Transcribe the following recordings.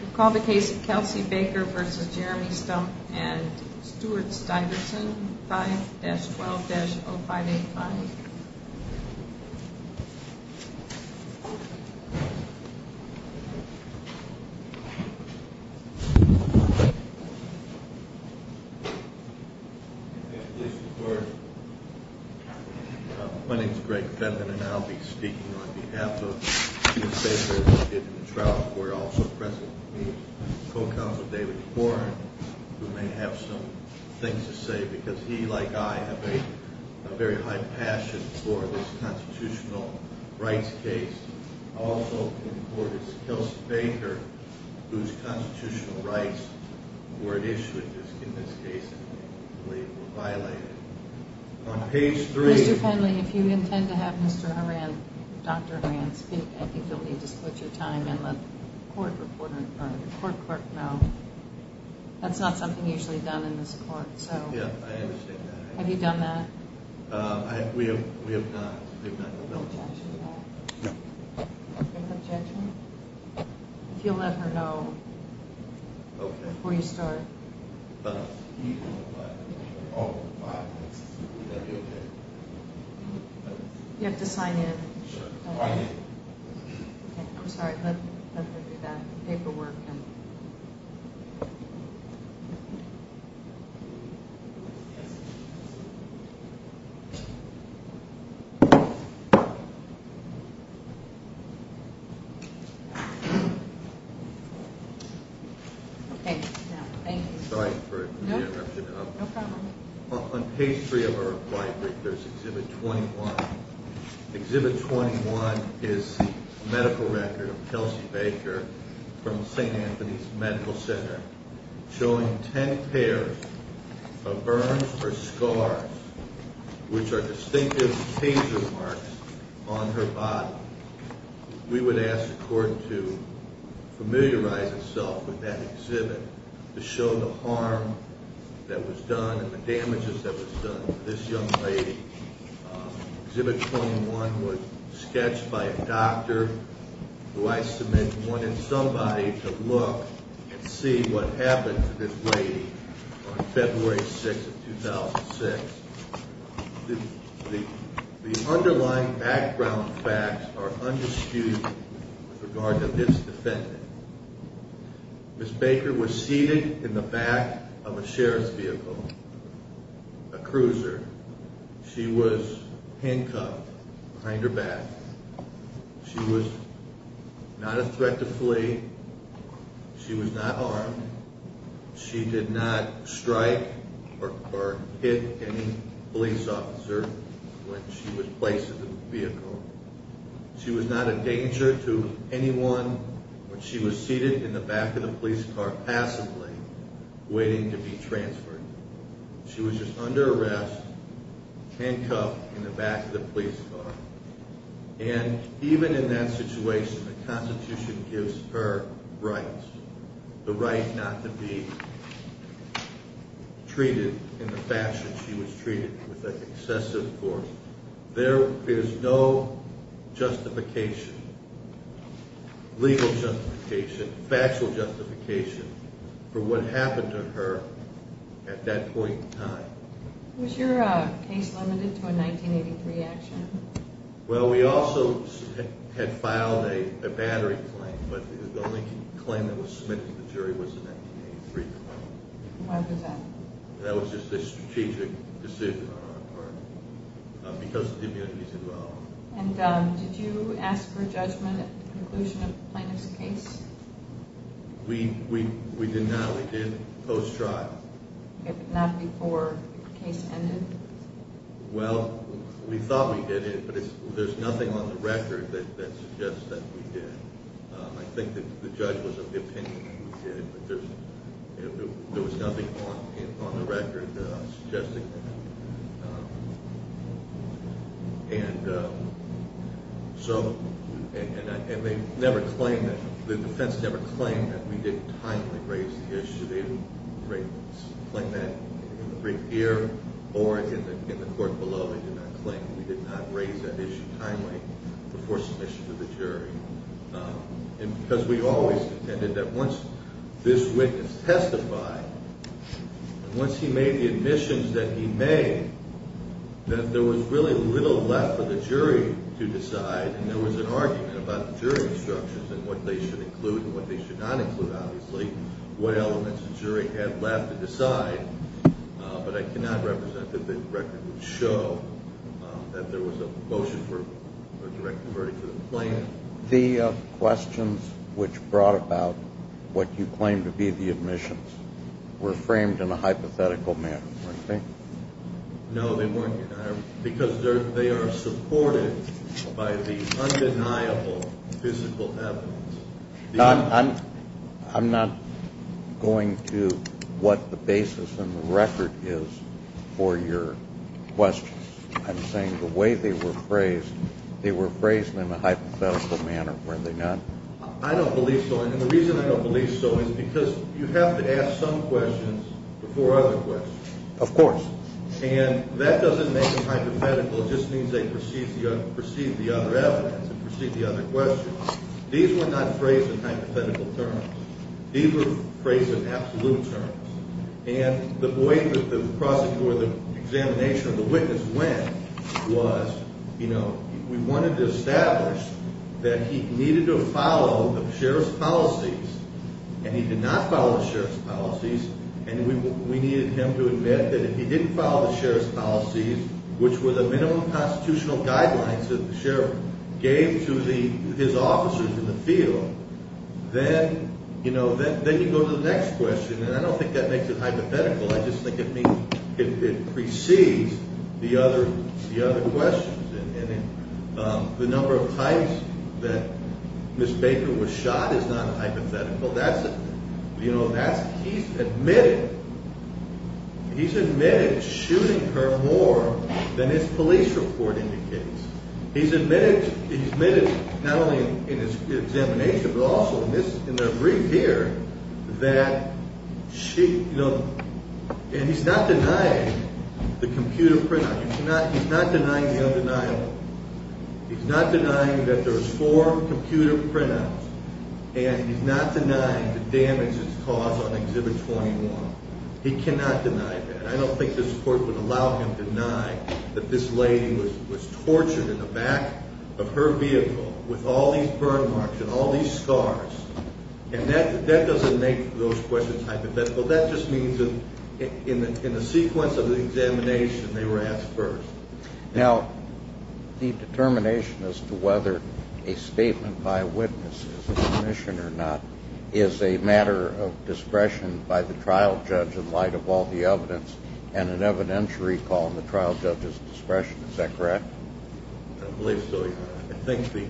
We'll call the case of Kelsey Baker v. Jeremy Stumpf v. Stuart Stuyvesant, 5-12-0585. My name is Greg Fenton, and I'll be speaking on behalf of Stuyvesant Baker, David Trout, who are also present with me, and co-counsel David Warren, who may have some things to say, because he, like I, have a very high passion and a great deal of respect for the people of Stuyvesant. Also in court is Kelsey Baker, whose constitutional rights were at issue in this case, and I believe were violated. Mr. Penley, if you intend to have Dr. Horan speak, I think you'll need to split your time and let the court clerk know. That's not something usually done in this court. Have you done that? We have not. Do you have an objection to that? No. Do you have an objection? If you'll let her know before you start. Oh, my. Is that okay? You have to sign in. Sure. Sign in. I'm sorry. Let her do that paperwork. Okay. Thank you. Sorry for the interruption. No problem. On page 3 of our report, there's Exhibit 21. Exhibit 21 is the medical record of Kelsey Baker from St. Anthony's Medical Center, showing 10 pairs of burns or scars, which are distinctive case remarks on her body. We would ask the court to familiarize itself with that exhibit to show the harm that was done and the damages that was done to this young lady. Exhibit 21 was sketched by a doctor who I submit wanted somebody to look and see what happened to this lady on February 6, 2006. The underlying background facts are undisputed with regard to this defendant. Ms. Baker was seated in the back of a sheriff's vehicle, a cruiser. She was handcuffed behind her back. She was not a threat to flee. She was not armed. She did not strike or hit any police officer when she was placed in the vehicle. She was not a danger to anyone when she was seated in the back of the police car passively waiting to be transferred. She was just under arrest, handcuffed in the back of the police car. And even in that situation, the Constitution gives her rights, the right not to be treated in the fashion she was treated with an excessive force. There is no justification, legal justification, factual justification, for what happened to her at that point in time. Was your case limited to a 1983 action? Well, we also had filed a battery claim, but the only claim that was submitted to the jury was an 1983 claim. Why was that? That was just a strategic decision on our part because of the immunities involved. And did you ask for a judgment at the conclusion of the plaintiff's case? We did not. We did post-trial. Not before the case ended? Well, we thought we did it, but there's nothing on the record that suggests that we did. I think that the judge was of the opinion that we did it, but there was nothing on the record suggesting that. And the defense never claimed that we didn't timely raise the issue. They would claim that in the brief year or in the court below. They did not claim that we did not raise that issue timely before submission to the jury. Because we always intended that once this witness testified, once he made the admissions that he made, that there was really little left for the jury to decide, and there was an argument about the jury instructions and what they should include and what they should not include, obviously, what elements the jury had left to decide. But I cannot represent that the record would show that there was a motion for a direct converting to the plaintiff. The questions which brought about what you claimed to be the admissions were framed in a hypothetical manner, weren't they? No, they weren't, because they are supported by the undeniable physical evidence. I'm not going to what the basis and the record is for your questions. I'm saying the way they were phrased, they were phrased in a hypothetical manner, weren't they not? I don't believe so, and the reason I don't believe so is because you have to ask some questions before other questions. Of course. And that doesn't make them hypothetical. It just means they perceive the other evidence and perceive the other questions. These were not phrased in hypothetical terms. These were phrased in absolute terms, and the way that the examination of the witness went was, you know, we wanted to establish that he needed to follow the sheriff's policies, and he did not follow the sheriff's policies, and we needed him to admit that if he didn't follow the sheriff's policies, which were the minimum constitutional guidelines that the sheriff gave to his officers in the field, then, you know, then you go to the next question, and I don't think that makes it hypothetical. I just think it precedes the other questions, and the number of times that Ms. Baker was shot is not hypothetical. That's, you know, that's, he's admitted, he's admitted shooting her more than his police report indicates. He's admitted, he's admitted not only in his examination but also in this, in the brief here that she, you know, and he's not denying the computer printout. He's not, he's not denying the undeniable. He's not denying that there's four computer printouts, and he's not denying the damages caused on Exhibit 21. He cannot deny that. I don't think this court would allow him to deny that this lady was tortured in the back of her vehicle with all these burn marks and all these scars, and that doesn't make those questions hypothetical. That just means that in the sequence of the examination, they were asked first. Now, the determination as to whether a statement by a witness is an admission or not is a matter of discretion by the trial judge in light of all the evidence and an evidentiary call in the trial judge's discretion. Is that correct? I believe so, Your Honor. I think the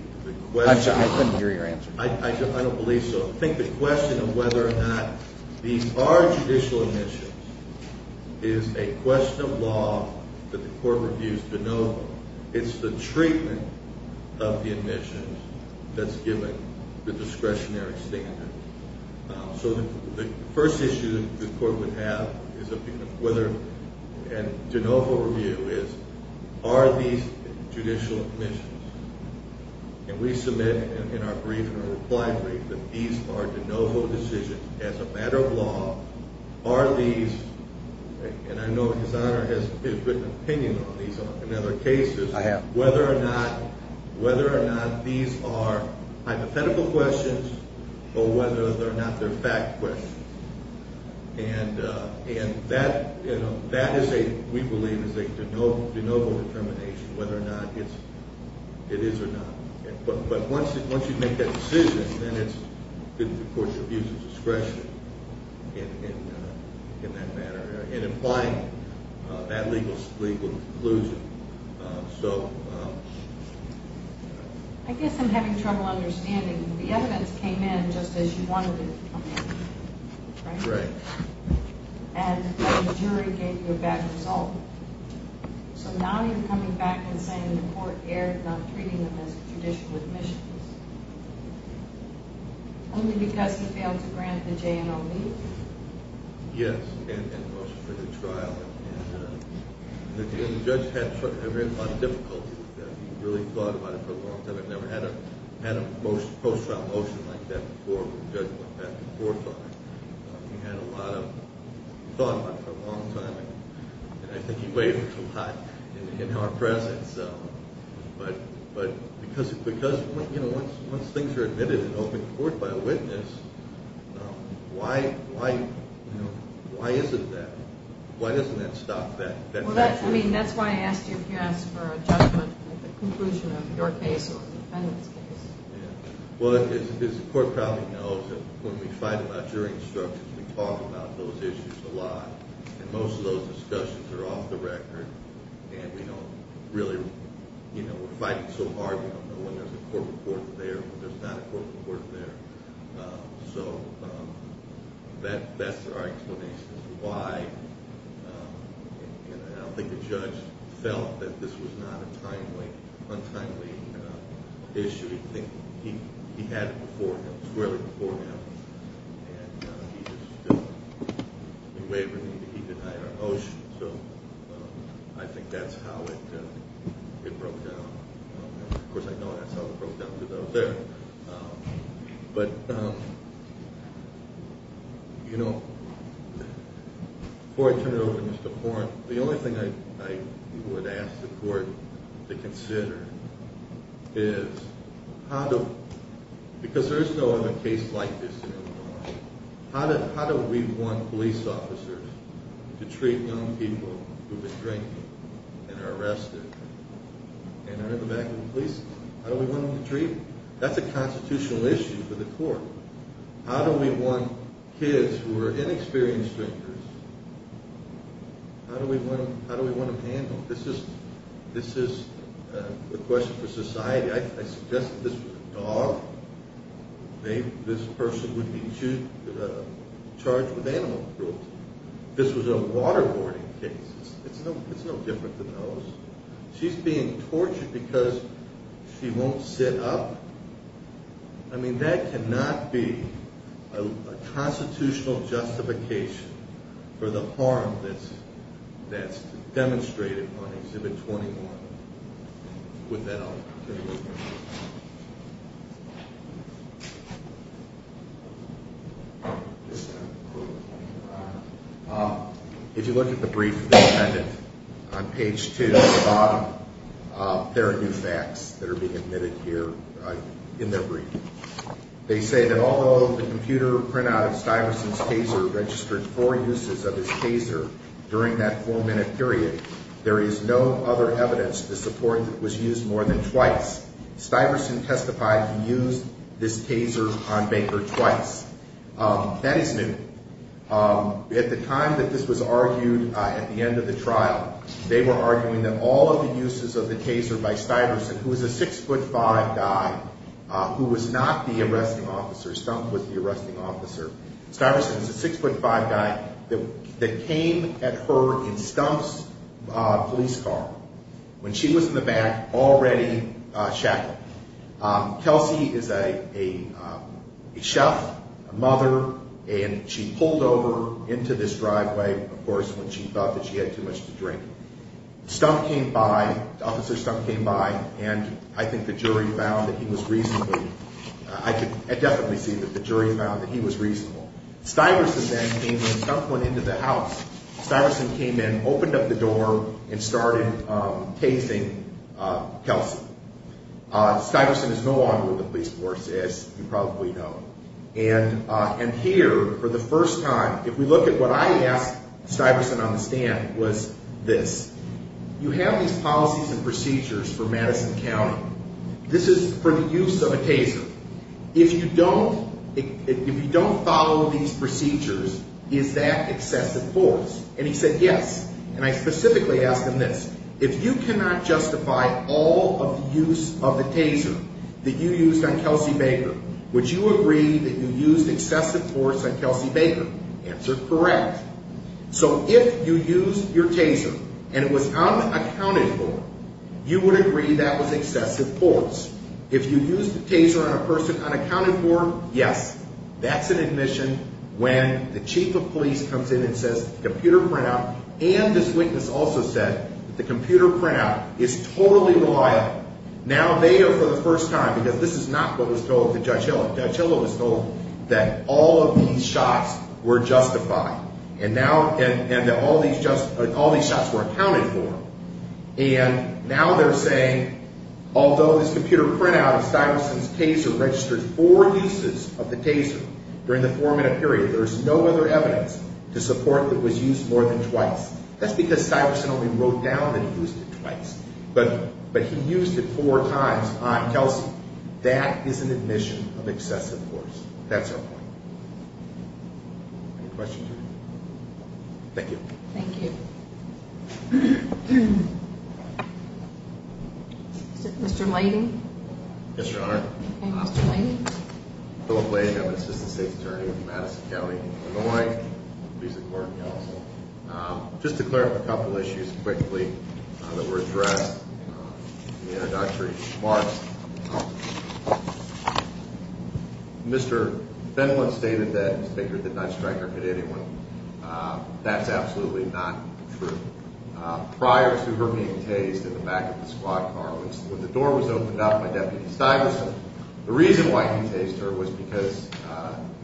question of whether or not these are judicial admissions is a question of law that the court reviews de novo. It's the treatment of the admissions that's given the discretionary standard. So the first issue that the court would have is whether, and de novo review is, are these judicial admissions? And we submit in our brief, in our reply brief, that these are de novo decisions as a matter of law. Are these, and I know His Honor has written opinion on these in other cases. I have. Whether or not these are hypothetical questions or whether or not they're fact questions. And that, we believe, is a de novo determination, whether or not it is or not. But once you make that decision, then it's the court's abuse of discretion in that matter and implying that legal conclusion. I guess I'm having trouble understanding. The evidence came in just as you wanted it to come in, right? Right. And the jury gave you a bad result. So now you're coming back and saying the court erred not treating them as judicial admissions. Only because you failed to grant the J&OB? Yes, and most of the trial. And the judge had a lot of difficulty with that. He really thought about it for a long time. I've never had a post-trial motion like that before where the judge went back and forth on it. He had a lot of thought about it for a long time. And I think he wavers a lot in our presence. But because once things are admitted in open court by a witness, why isn't that? Why doesn't that stop that? Well, that's why I asked you if you asked for a judgment at the conclusion of your case or the defendant's case. Well, as the court probably knows, when we fight about jury instructions, we talk about those issues a lot. And most of those discussions are off the record. And we don't really, you know, we're fighting so hard we don't know when there's a court report there, when there's not a court report there. So that's our explanation as to why. And I don't think the judge felt that this was not a timely, untimely issue. He had it before him. It was clearly before him. And he just wavered. He denied our motion. So I think that's how it broke down. Of course, I know that's how it broke down to those there. But, you know, before I turn it over to Mr. Horne, the only thing I would ask the court to consider is how to, because there is no other case like this in Illinois. How do we want police officers to treat young people who have been drinking and are arrested and are in the back of the police? How do we want them to treat them? That's a constitutional issue for the court. How do we want kids who are inexperienced drinkers, how do we want them handled? This is a question for society. I suggest that this was a dog. This person would be charged with animal cruelty. This was a waterboarding case. It's no different than those. She's being tortured because she won't sit up. I mean, that cannot be a constitutional justification for the harm that's demonstrated on Exhibit 21. With that, I'll turn it over to you. If you look at the brief that's on Page 2 at the bottom, there are new facts that are being admitted here in their brief. They say that although the computer printout of Stuyvesant's taser registered four uses of his taser during that four-minute period, there is no other evidence to support that it was used more than twice. Stuyvesant testified he used this taser on Baker twice. That is new. At the time that this was argued at the end of the trial, they were arguing that all of the uses of the taser by Stuyvesant, who is a 6'5 guy who was not the arresting officer, Stumpf was the arresting officer. Stuyvesant is a 6'5 guy that came at her in Stumpf's police car. When she was in the back, already shackled. Kelsey is a chef, a mother, and she pulled over into this driveway, of course, when she thought that she had too much to drink. Stumpf came by. Officer Stumpf came by, and I think the jury found that he was reasonable. I could definitely see that the jury found that he was reasonable. Stuyvesant then came in. Stumpf went into the house. Stuyvesant came in, opened up the door, and started tasing Kelsey. Stuyvesant is no longer with the police force, as you probably know. And here, for the first time, if we look at what I asked Stuyvesant on the stand was this. You have these policies and procedures for Madison County. This is for the use of a taser. If you don't follow these procedures, is that excessive force? And he said yes. And I specifically asked him this. If you cannot justify all of the use of the taser that you used on Kelsey Baker, would you agree that you used excessive force on Kelsey Baker? Answered correct. So if you used your taser and it was unaccounted for, you would agree that was excessive force. If you used the taser on a person unaccounted for, yes. That's an admission when the chief of police comes in and says computer printout, and this witness also said that the computer printout is totally reliable. Now they are for the first time, because this is not what was told to Judge Hill. Judge Hill was told that all of these shots were justified and that all these shots were accounted for. And now they're saying, although this computer printout of Stuyvesant's taser registered four uses of the taser during the four-minute period, there's no other evidence to support that it was used more than twice. That's because Stuyvesant only wrote down that he used it twice. But he used it four times on Kelsey. That is an admission of excessive force. That's our point. Any questions? Thank you. Thank you. Mr. Leighton. Yes, Your Honor. Mr. Leighton. Philip Leighton. I'm an assistant state attorney with Madison County, Illinois. I'm a police and court counsel. Just to clear up a couple issues quickly that were addressed in the introductory remarks. Mr. Fenlon stated that Mr. Baker did not strike or hit anyone. That's absolutely not true. Prior to her being tased in the back of the squad car, when the door was opened up by Deputy Stuyvesant, the reason why he tased her was because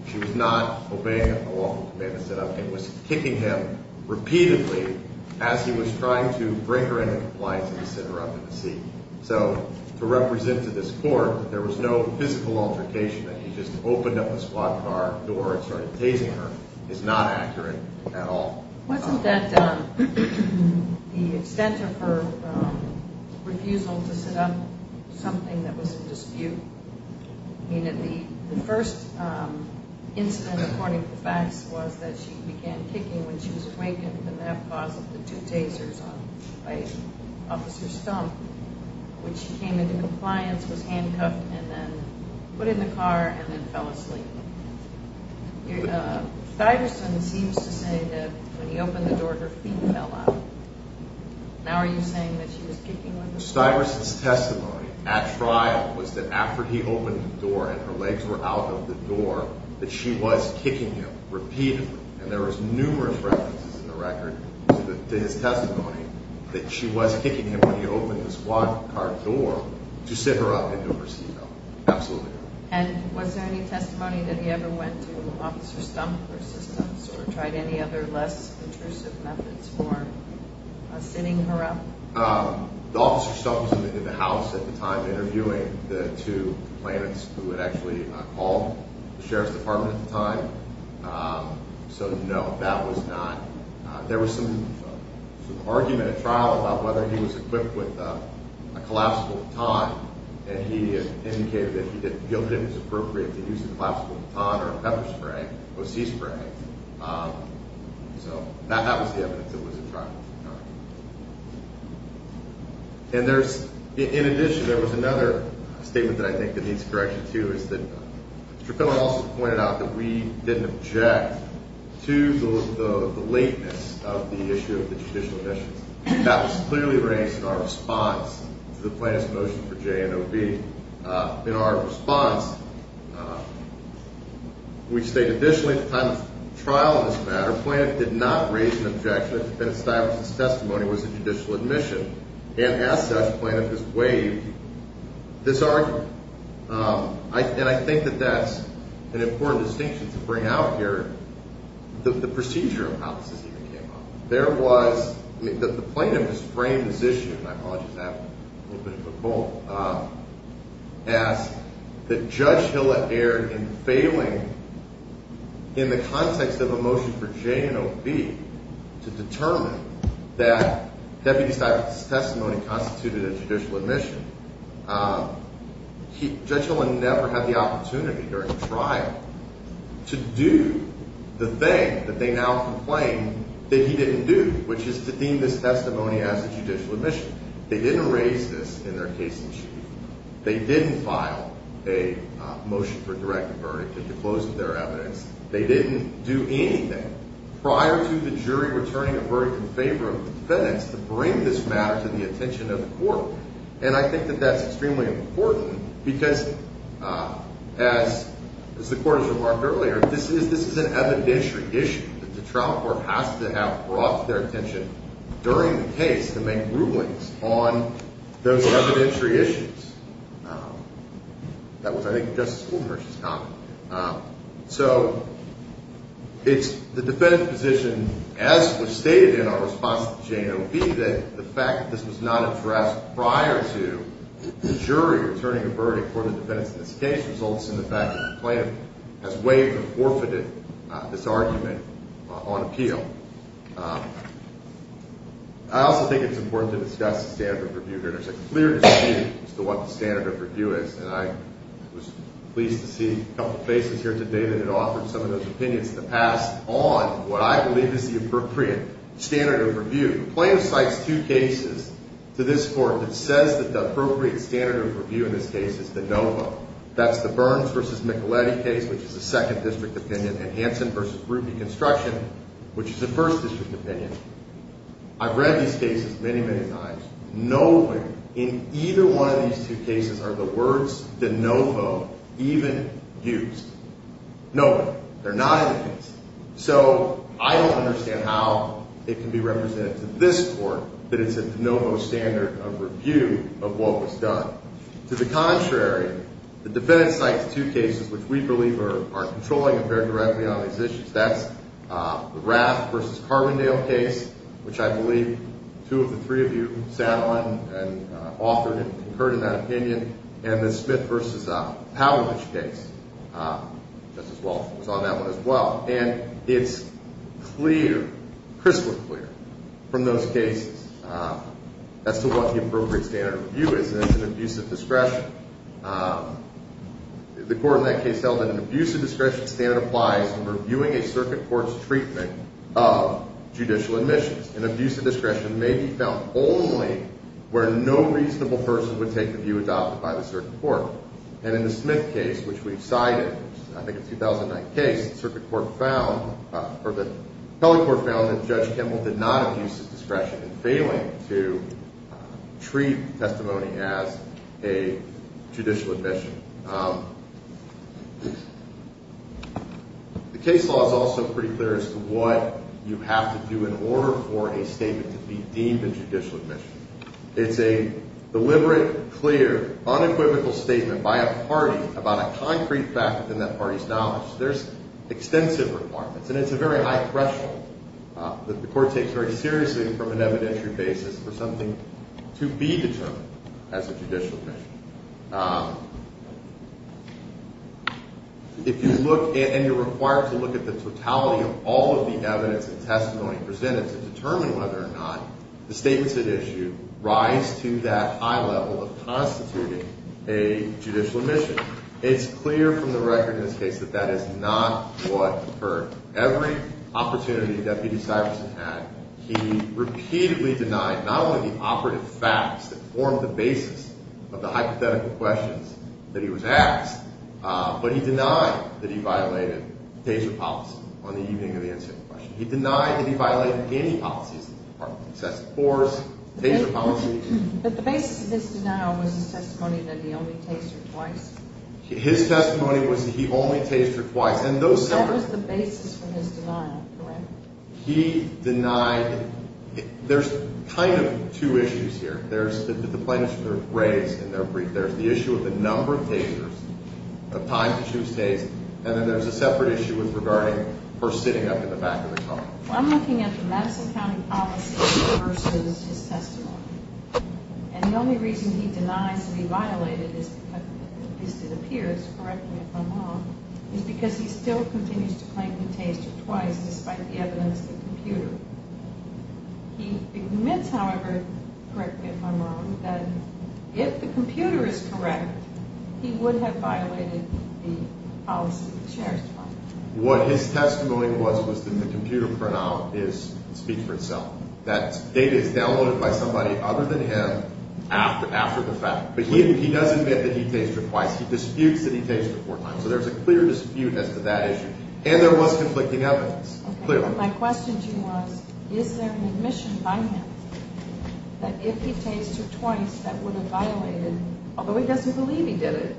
she was not obeying a lawful command to sit up. It was kicking him repeatedly as he was trying to bring her into compliance and to sit her up in the seat. So to represent to this court that there was no physical altercation, that he just opened up the squad car door and started tasing her is not accurate at all. Wasn't that the extent of her refusal to sit up something that was in dispute? I mean, the first incident, according to the facts, was that she began kicking when she was drinking and that caused the two tasers by Officer Stump, which she came into compliance, was handcuffed, and then put in the car and then fell asleep. Stuyvesant seems to say that when he opened the door, her feet fell out. Now are you saying that she was kicking when the door was opened? Stuyvesant's testimony at trial was that after he opened the door and her legs were out of the door, that she was kicking him repeatedly. And there was numerous references in the record to his testimony that she was kicking him when he opened the squad car door to sit her up into her seat belt. Absolutely. And was there any testimony that he ever went to Officer Stump for assistance or tried any other less intrusive methods for sitting her up? The Officer Stump was in the house at the time interviewing the two complainants who had actually called the Sheriff's Department at the time. So no, that was not. There was some argument at trial about whether he was equipped with a collapsible baton, and he indicated that he didn't feel it was appropriate to use a collapsible baton or a pepper spray or a sea spray. So that was the evidence that was at trial at the time. And in addition, there was another statement that I think that needs correction, too, is that Mr. Cullen also pointed out that we didn't object to the lateness of the issue of the judicial admissions. That was clearly raised in our response to the plaintiff's motion for JNOB. In our response, we state, additionally, at the time of trial in this matter, that the plaintiff did not raise an objection that a stylist's testimony was a judicial admission, and as such, the plaintiff has waived this argument. And I think that that's an important distinction to bring out here, the procedure of how this issue came up. There was—the plaintiff has framed this issue, and I apologize for that, a little bit of a quote, as that Judge Hilla erred in failing, in the context of a motion for JNOB, to determine that deputy stylist's testimony constituted a judicial admission. Judge Hilla never had the opportunity during trial to do the thing that they now complain that he didn't do, which is to deem this testimony as a judicial admission. They didn't raise this in their case in chief. They didn't file a motion for direct verdict to disclose their evidence. They didn't do anything prior to the jury returning a verdict in favor of the defendants to bring this matter to the attention of the court. And I think that that's extremely important because, as the court has remarked earlier, this is an evidentiary issue that the trial court has to have brought to their attention during the case to make rulings on those evidentiary issues. That was, I think, Justice Wolters' comment. So it's the defendant's position, as was stated in our response to JNOB, that the fact that this was not addressed prior to the jury returning a verdict for the defendants in this case results in the fact that the plaintiff has waived or forfeited this argument on appeal. I also think it's important to discuss the standard of review here. There's a clear dispute as to what the standard of review is, and I was pleased to see a couple of faces here today that had offered some of those opinions to pass on what I believe is the appropriate standard of review. The plaintiff cites two cases to this court that says that the appropriate standard of review in this case is the NOVA. That's the Burns v. Micheletti case, which is a Second District opinion, and Hansen v. Ruby Construction, which is a First District opinion. I've read these cases many, many times. Nowhere in either one of these two cases are the words de novo even used. Nowhere. They're not in the case. So I don't understand how it can be represented to this court that it's a de novo standard of review of what was done. To the contrary, the defendant cites two cases which we believe are controlling and fair directly on these issues. That's the Raft v. Carbondale case, which I believe two of the three of you sat on and authored and concurred in that opinion, and the Smith v. Pavlovich case was on that one as well. And it's clear, crystal clear from those cases as to what the appropriate standard of review is and it's an abuse of discretion. The court in that case held that an abuse of discretion standard applies when reviewing a circuit court's treatment of judicial admissions. An abuse of discretion may be found only where no reasonable person would take the view adopted by the circuit court. And in the Smith case, which we've cited, I think a 2009 case, the circuit court found or the appellate court found that Judge Kimball did not abuse of discretion in failing to treat testimony as a judicial admission. The case law is also pretty clear as to what you have to do in order for a statement to be deemed a judicial admission. It's a deliberate, clear, unequivocal statement by a party about a concrete fact within that party's knowledge. There's extensive requirements and it's a very high threshold that the court takes very seriously from an evidentiary basis for something to be determined as a judicial admission. If you look and you're required to look at the totality of all of the evidence and testimony presented to determine whether or not the statements at issue rise to that high level of constituting a judicial admission. It's clear from the record in this case that that is not what occurred. Every opportunity Deputy Syverson had, he repeatedly denied not only the operative facts that formed the basis of the hypothetical questions that he was asked, but he denied that he violated taser policy on the evening of the incident. He denied that he violated any policies of the Department of Justice. But the basis of this denial was his testimony that he only tasered twice? His testimony was that he only tasered twice. That was the basis for his denial, correct? He denied, there's kind of two issues here. There's the definition that was raised in their brief. There's the issue of the number of tasers, the time to choose tase, and then there's a separate issue regarding her sitting up in the back of the car. I'm looking at the Madison County policy versus his testimony. And the only reason he denies to be violated, at least it appears, correctly if I'm wrong, is because he still continues to claim to have tasered twice despite the evidence in the computer. He admits, however, correctly if I'm wrong, that if the computer is correct, he would have violated the policy of the Sheriff's Department. What his testimony was was that the computer printout speaks for itself. That data is downloaded by somebody other than him after the fact. But he does admit that he tasered twice. He disputes that he tasered four times. So there's a clear dispute as to that issue. And there was conflicting evidence, clearly. My question to you was, is there an admission by him that if he tasered twice, that would have violated, although he doesn't believe he did it,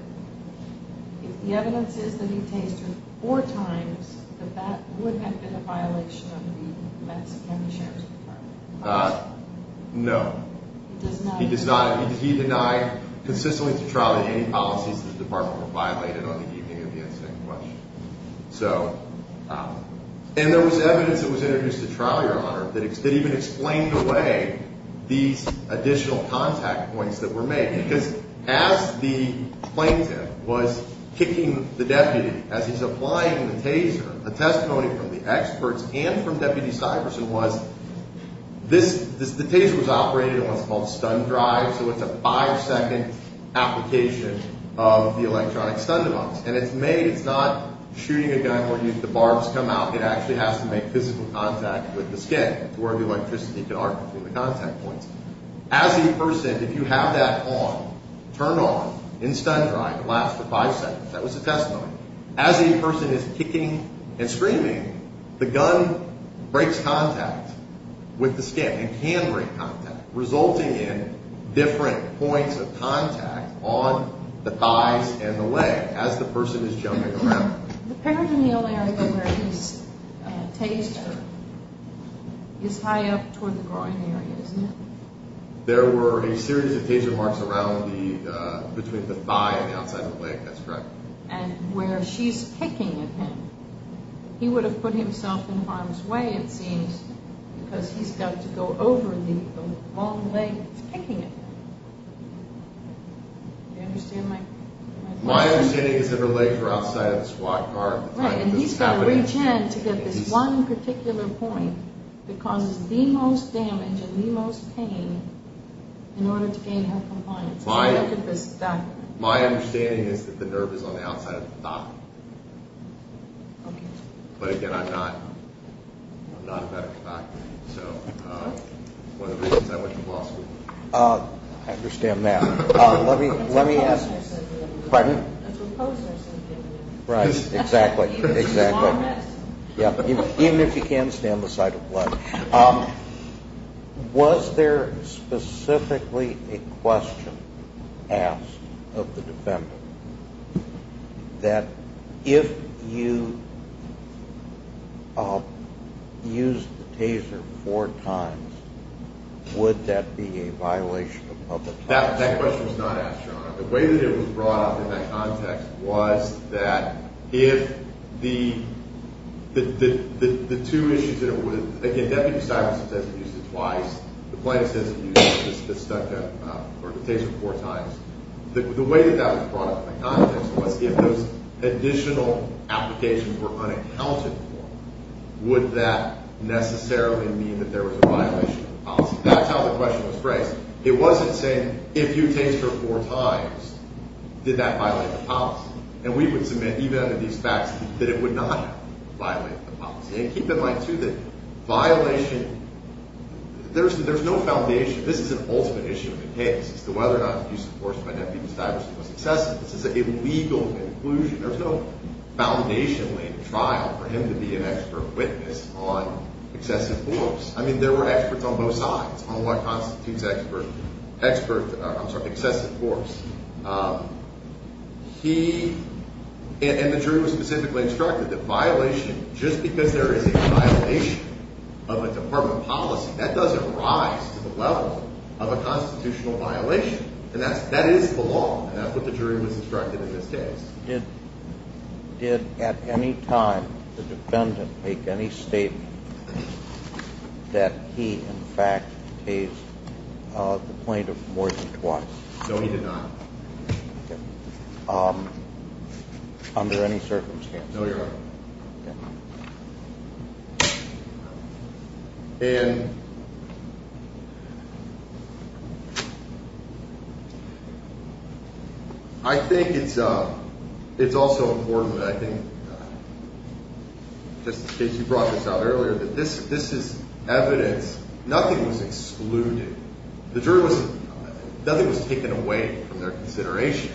if the evidence is that he tasered four times, that that would have been a violation of the Madison County Sheriff's Department policy? No. He does not? He does not. He denied consistently to trial that any policies of the department were violated on the evening of the insane question. So, and there was evidence that was introduced to trial, Your Honor, that even explained away these additional contact points that were made. Because as the plaintiff was kicking the deputy, as he's applying the taser, a testimony from the experts and from Deputy Stuyvesant was this, the taser was operated on what's called a stun drive, so it's a five-second application of the electronic stun device. And it's made, it's not shooting a gun where the barbs come out. It actually has to make physical contact with the skin, where the electricity can arc between the contact points. As a person, if you have that on, turned on, in stun drive, lasts for five seconds. That was a testimony. As a person is kicking and screaming, the gun breaks contact with the skin. It can break contact, resulting in different points of contact on the thighs and the leg as the person is jumping around. The peritoneal area where he's tasered is high up toward the groin area, isn't it? There were a series of taser marks around the, between the thigh and the outside of the leg. That's correct. And where she's kicking at him, he would have put himself in harm's way, it seems, because he's got to go over the long leg that's kicking at him. Do you understand my point? My understanding is that her legs were outside of the squad car at the time this was happening. Right, and he's got to reach in to get this one particular point that causes the most damage and the most pain in order to gain her compliance. My understanding is that the nerve is on the outside of the thigh. Okay. But again, I'm not a medical doctor, so one of the reasons I went to law school. I understand that. Let me ask. Pardon? Right, exactly, exactly. Even if he can't stand the sight of blood. Was there specifically a question asked of the defendant that if you used the taser four times, would that be a violation of the clause? That question was not asked, Your Honor. The way that it was brought up in that context was that if the two issues that it would have, again, Deputy Cyprus has said he used it twice. The plaintiff says he used it, it's stuck up, or the taser four times. The way that that was brought up in that context was if those additional applications were unaccounted for, would that necessarily mean that there was a violation of the policy? That's how the question was phrased. It wasn't saying if you taser her four times, did that violate the policy? And we would submit, even under these facts, that it would not violate the policy. And keep in mind, too, that violation, there's no foundation. This is an ultimate issue of the case as to whether or not the use of force by Deputy Cyprus was excessive. This is an illegal inclusion. There's no foundation laid in trial for him to be an expert witness on excessive force. I mean, there were experts on both sides on what constitutes excessive force. And the jury was specifically instructed that violation, just because there is a violation of a department policy, that doesn't rise to the level of a constitutional violation. And that is the law, and that's what the jury was instructed in this case. Did at any time the defendant make any statement that he, in fact, tased the plaintiff more than twice? No, he did not. Under any circumstance? No, Your Honor. And I think it's also important that I think, just in case you brought this out earlier, that this is evidence. Nothing was excluded. The jury was – nothing was taken away from their consideration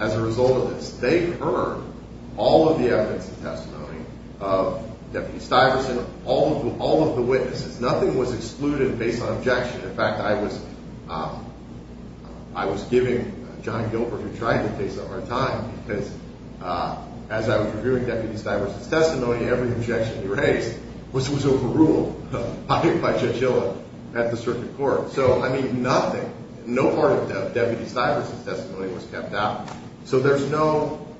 as a result of this. They heard all of the evidence and testimony of Deputy Stuyvesant, all of the witnesses. Nothing was excluded based on objection. In fact, I was giving John Gilbert, who tried to take some of our time, because as I was reviewing Deputy Stuyvesant's testimony, every objection he raised was overruled by Judge Hill at the circuit court. So, I mean, nothing, no part of Deputy Stuyvesant's testimony was kept out. So there's no –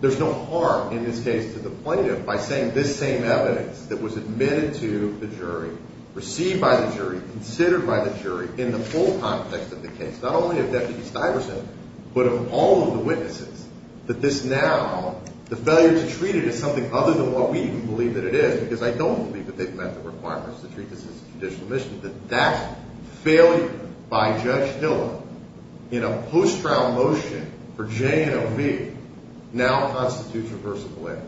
there's no harm in this case to the plaintiff by saying this same evidence that was admitted to the jury, received by the jury, considered by the jury, in the full context of the case, not only of Deputy Stuyvesant, but of all of the witnesses, that this now – the failure to treat it as something other than what we believe that it is, because I don't believe that they've met the requirements to treat this as conditional admission, that that failure by Judge Hill in a post-trial motion for J and OV now constitutes reversible error.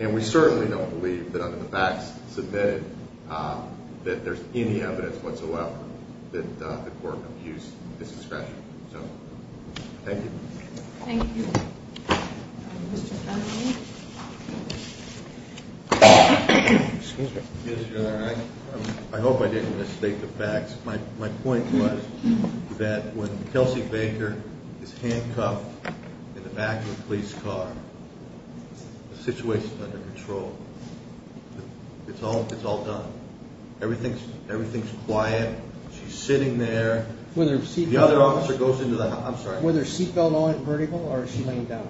And we certainly don't believe that under the facts submitted that there's any evidence whatsoever that the court abused this discretion. So, thank you. Thank you. Mr. Fennelly. Excuse me. Yes, your Honor. I hope I didn't mistake the facts. My point was that when Kelsey Baker is handcuffed in the back of a police car, the situation's under control. It's all done. Everything's quiet. She's sitting there. The other officer goes into the – I'm sorry. Was her seatbelt on at vertical, or was she laying down?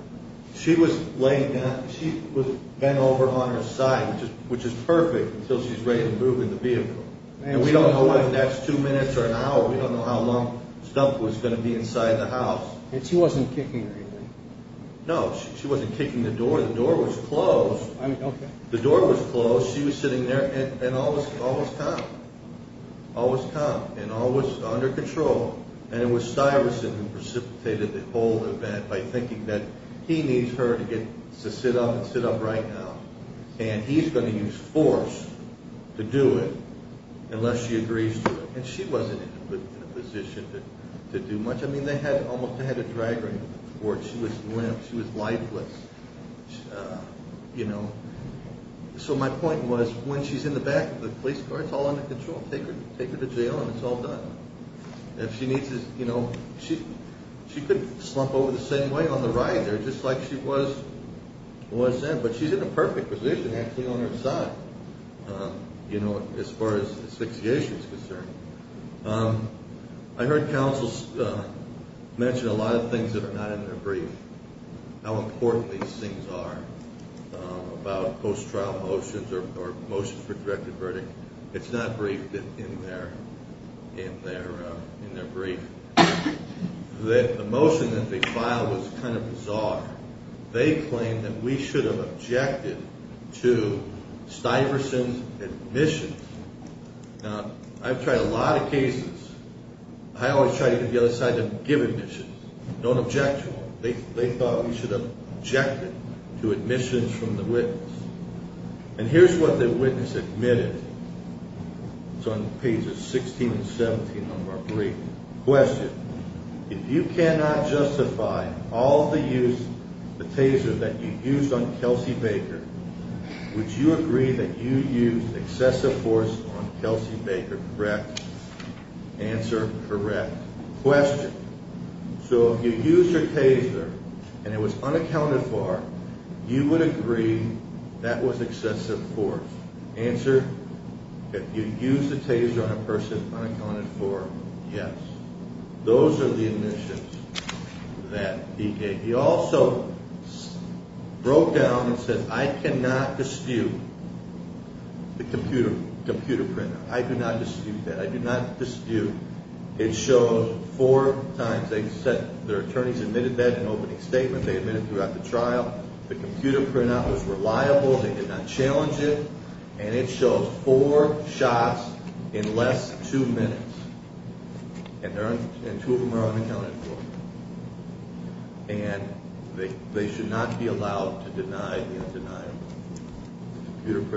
She was laying down. She was bent over on her side, which is perfect until she's ready to move in the vehicle. And we don't know what the next two minutes or an hour – we don't know how long stuff was going to be inside the house. And she wasn't kicking or anything? No. She wasn't kicking the door. The door was closed. I mean, okay. The door was closed. She was sitting there, and all was calm. All was calm, and all was under control. And it was Styrison who precipitated the whole event by thinking that he needs her to sit up and sit up right now, and he's going to use force to do it unless she agrees to it. And she wasn't in a position to do much. I mean, they had almost – they had a drag ring on the porch. She was limp. She was lifeless, you know. So my point was when she's in the back of the police car, it's all under control. Take her to jail, and it's all done. If she needs to – you know, she could slump over the same way on the right there, just like she was then, but she's in a perfect position, actually, on her side, you know, as far as asphyxiation is concerned. I heard counsel mention a lot of things that are not in their brief, how important these things are, about post-trial motions or motions for directed verdict. It's not briefed in their brief. The motion that they filed was kind of bizarre. They claimed that we should have objected to Styrison's admissions. Now, I've tried a lot of cases. I always try to get the other side to give admissions, don't object to them. They thought we should have objected to admissions from the witness. And here's what the witness admitted. It's on pages 16 and 17 of our brief. Question. If you cannot justify all the use, the taser that you used on Kelsey Baker, would you agree that you used excessive force on Kelsey Baker? Correct. Answer. Correct. Question. So if you used your taser and it was unaccounted for, you would agree that was excessive force. Answer. If you used the taser on a person unaccounted for, yes. Those are the admissions that he gave. He also broke down and said, I cannot dispute the computer printer. I do not dispute that. I do not dispute. It shows four times. Their attorneys admitted that in an opening statement. They admitted throughout the trial. The computer printout was reliable. They did not challenge it. And it shows four shots in less than two minutes. And two of them are unaccounted for. And they should not be allowed to deny the undeniable. And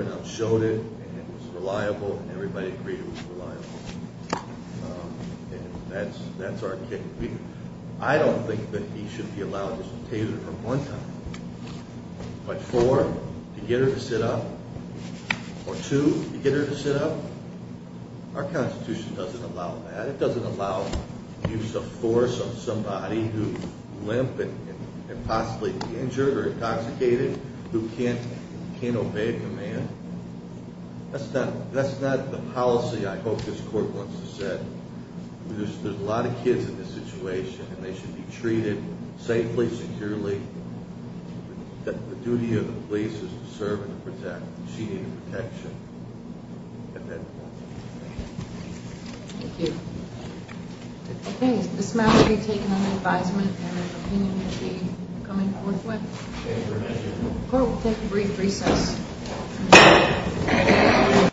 that's our kick. I don't think that he should be allowed to use a taser from one time. But four, to get her to sit up. Or two, to get her to sit up. Our Constitution doesn't allow that. It doesn't allow use of force on somebody who is limp and possibly injured or intoxicated, who can't obey command. That's not the policy I hope this court wants to set. There's a lot of kids in this situation. And they should be treated safely, securely. The duty of the police is to serve and to protect. And she needed protection. Thank you. Okay. This matter will be taken under advisement. And an opinion will be coming forthwith. Court will take a brief recess.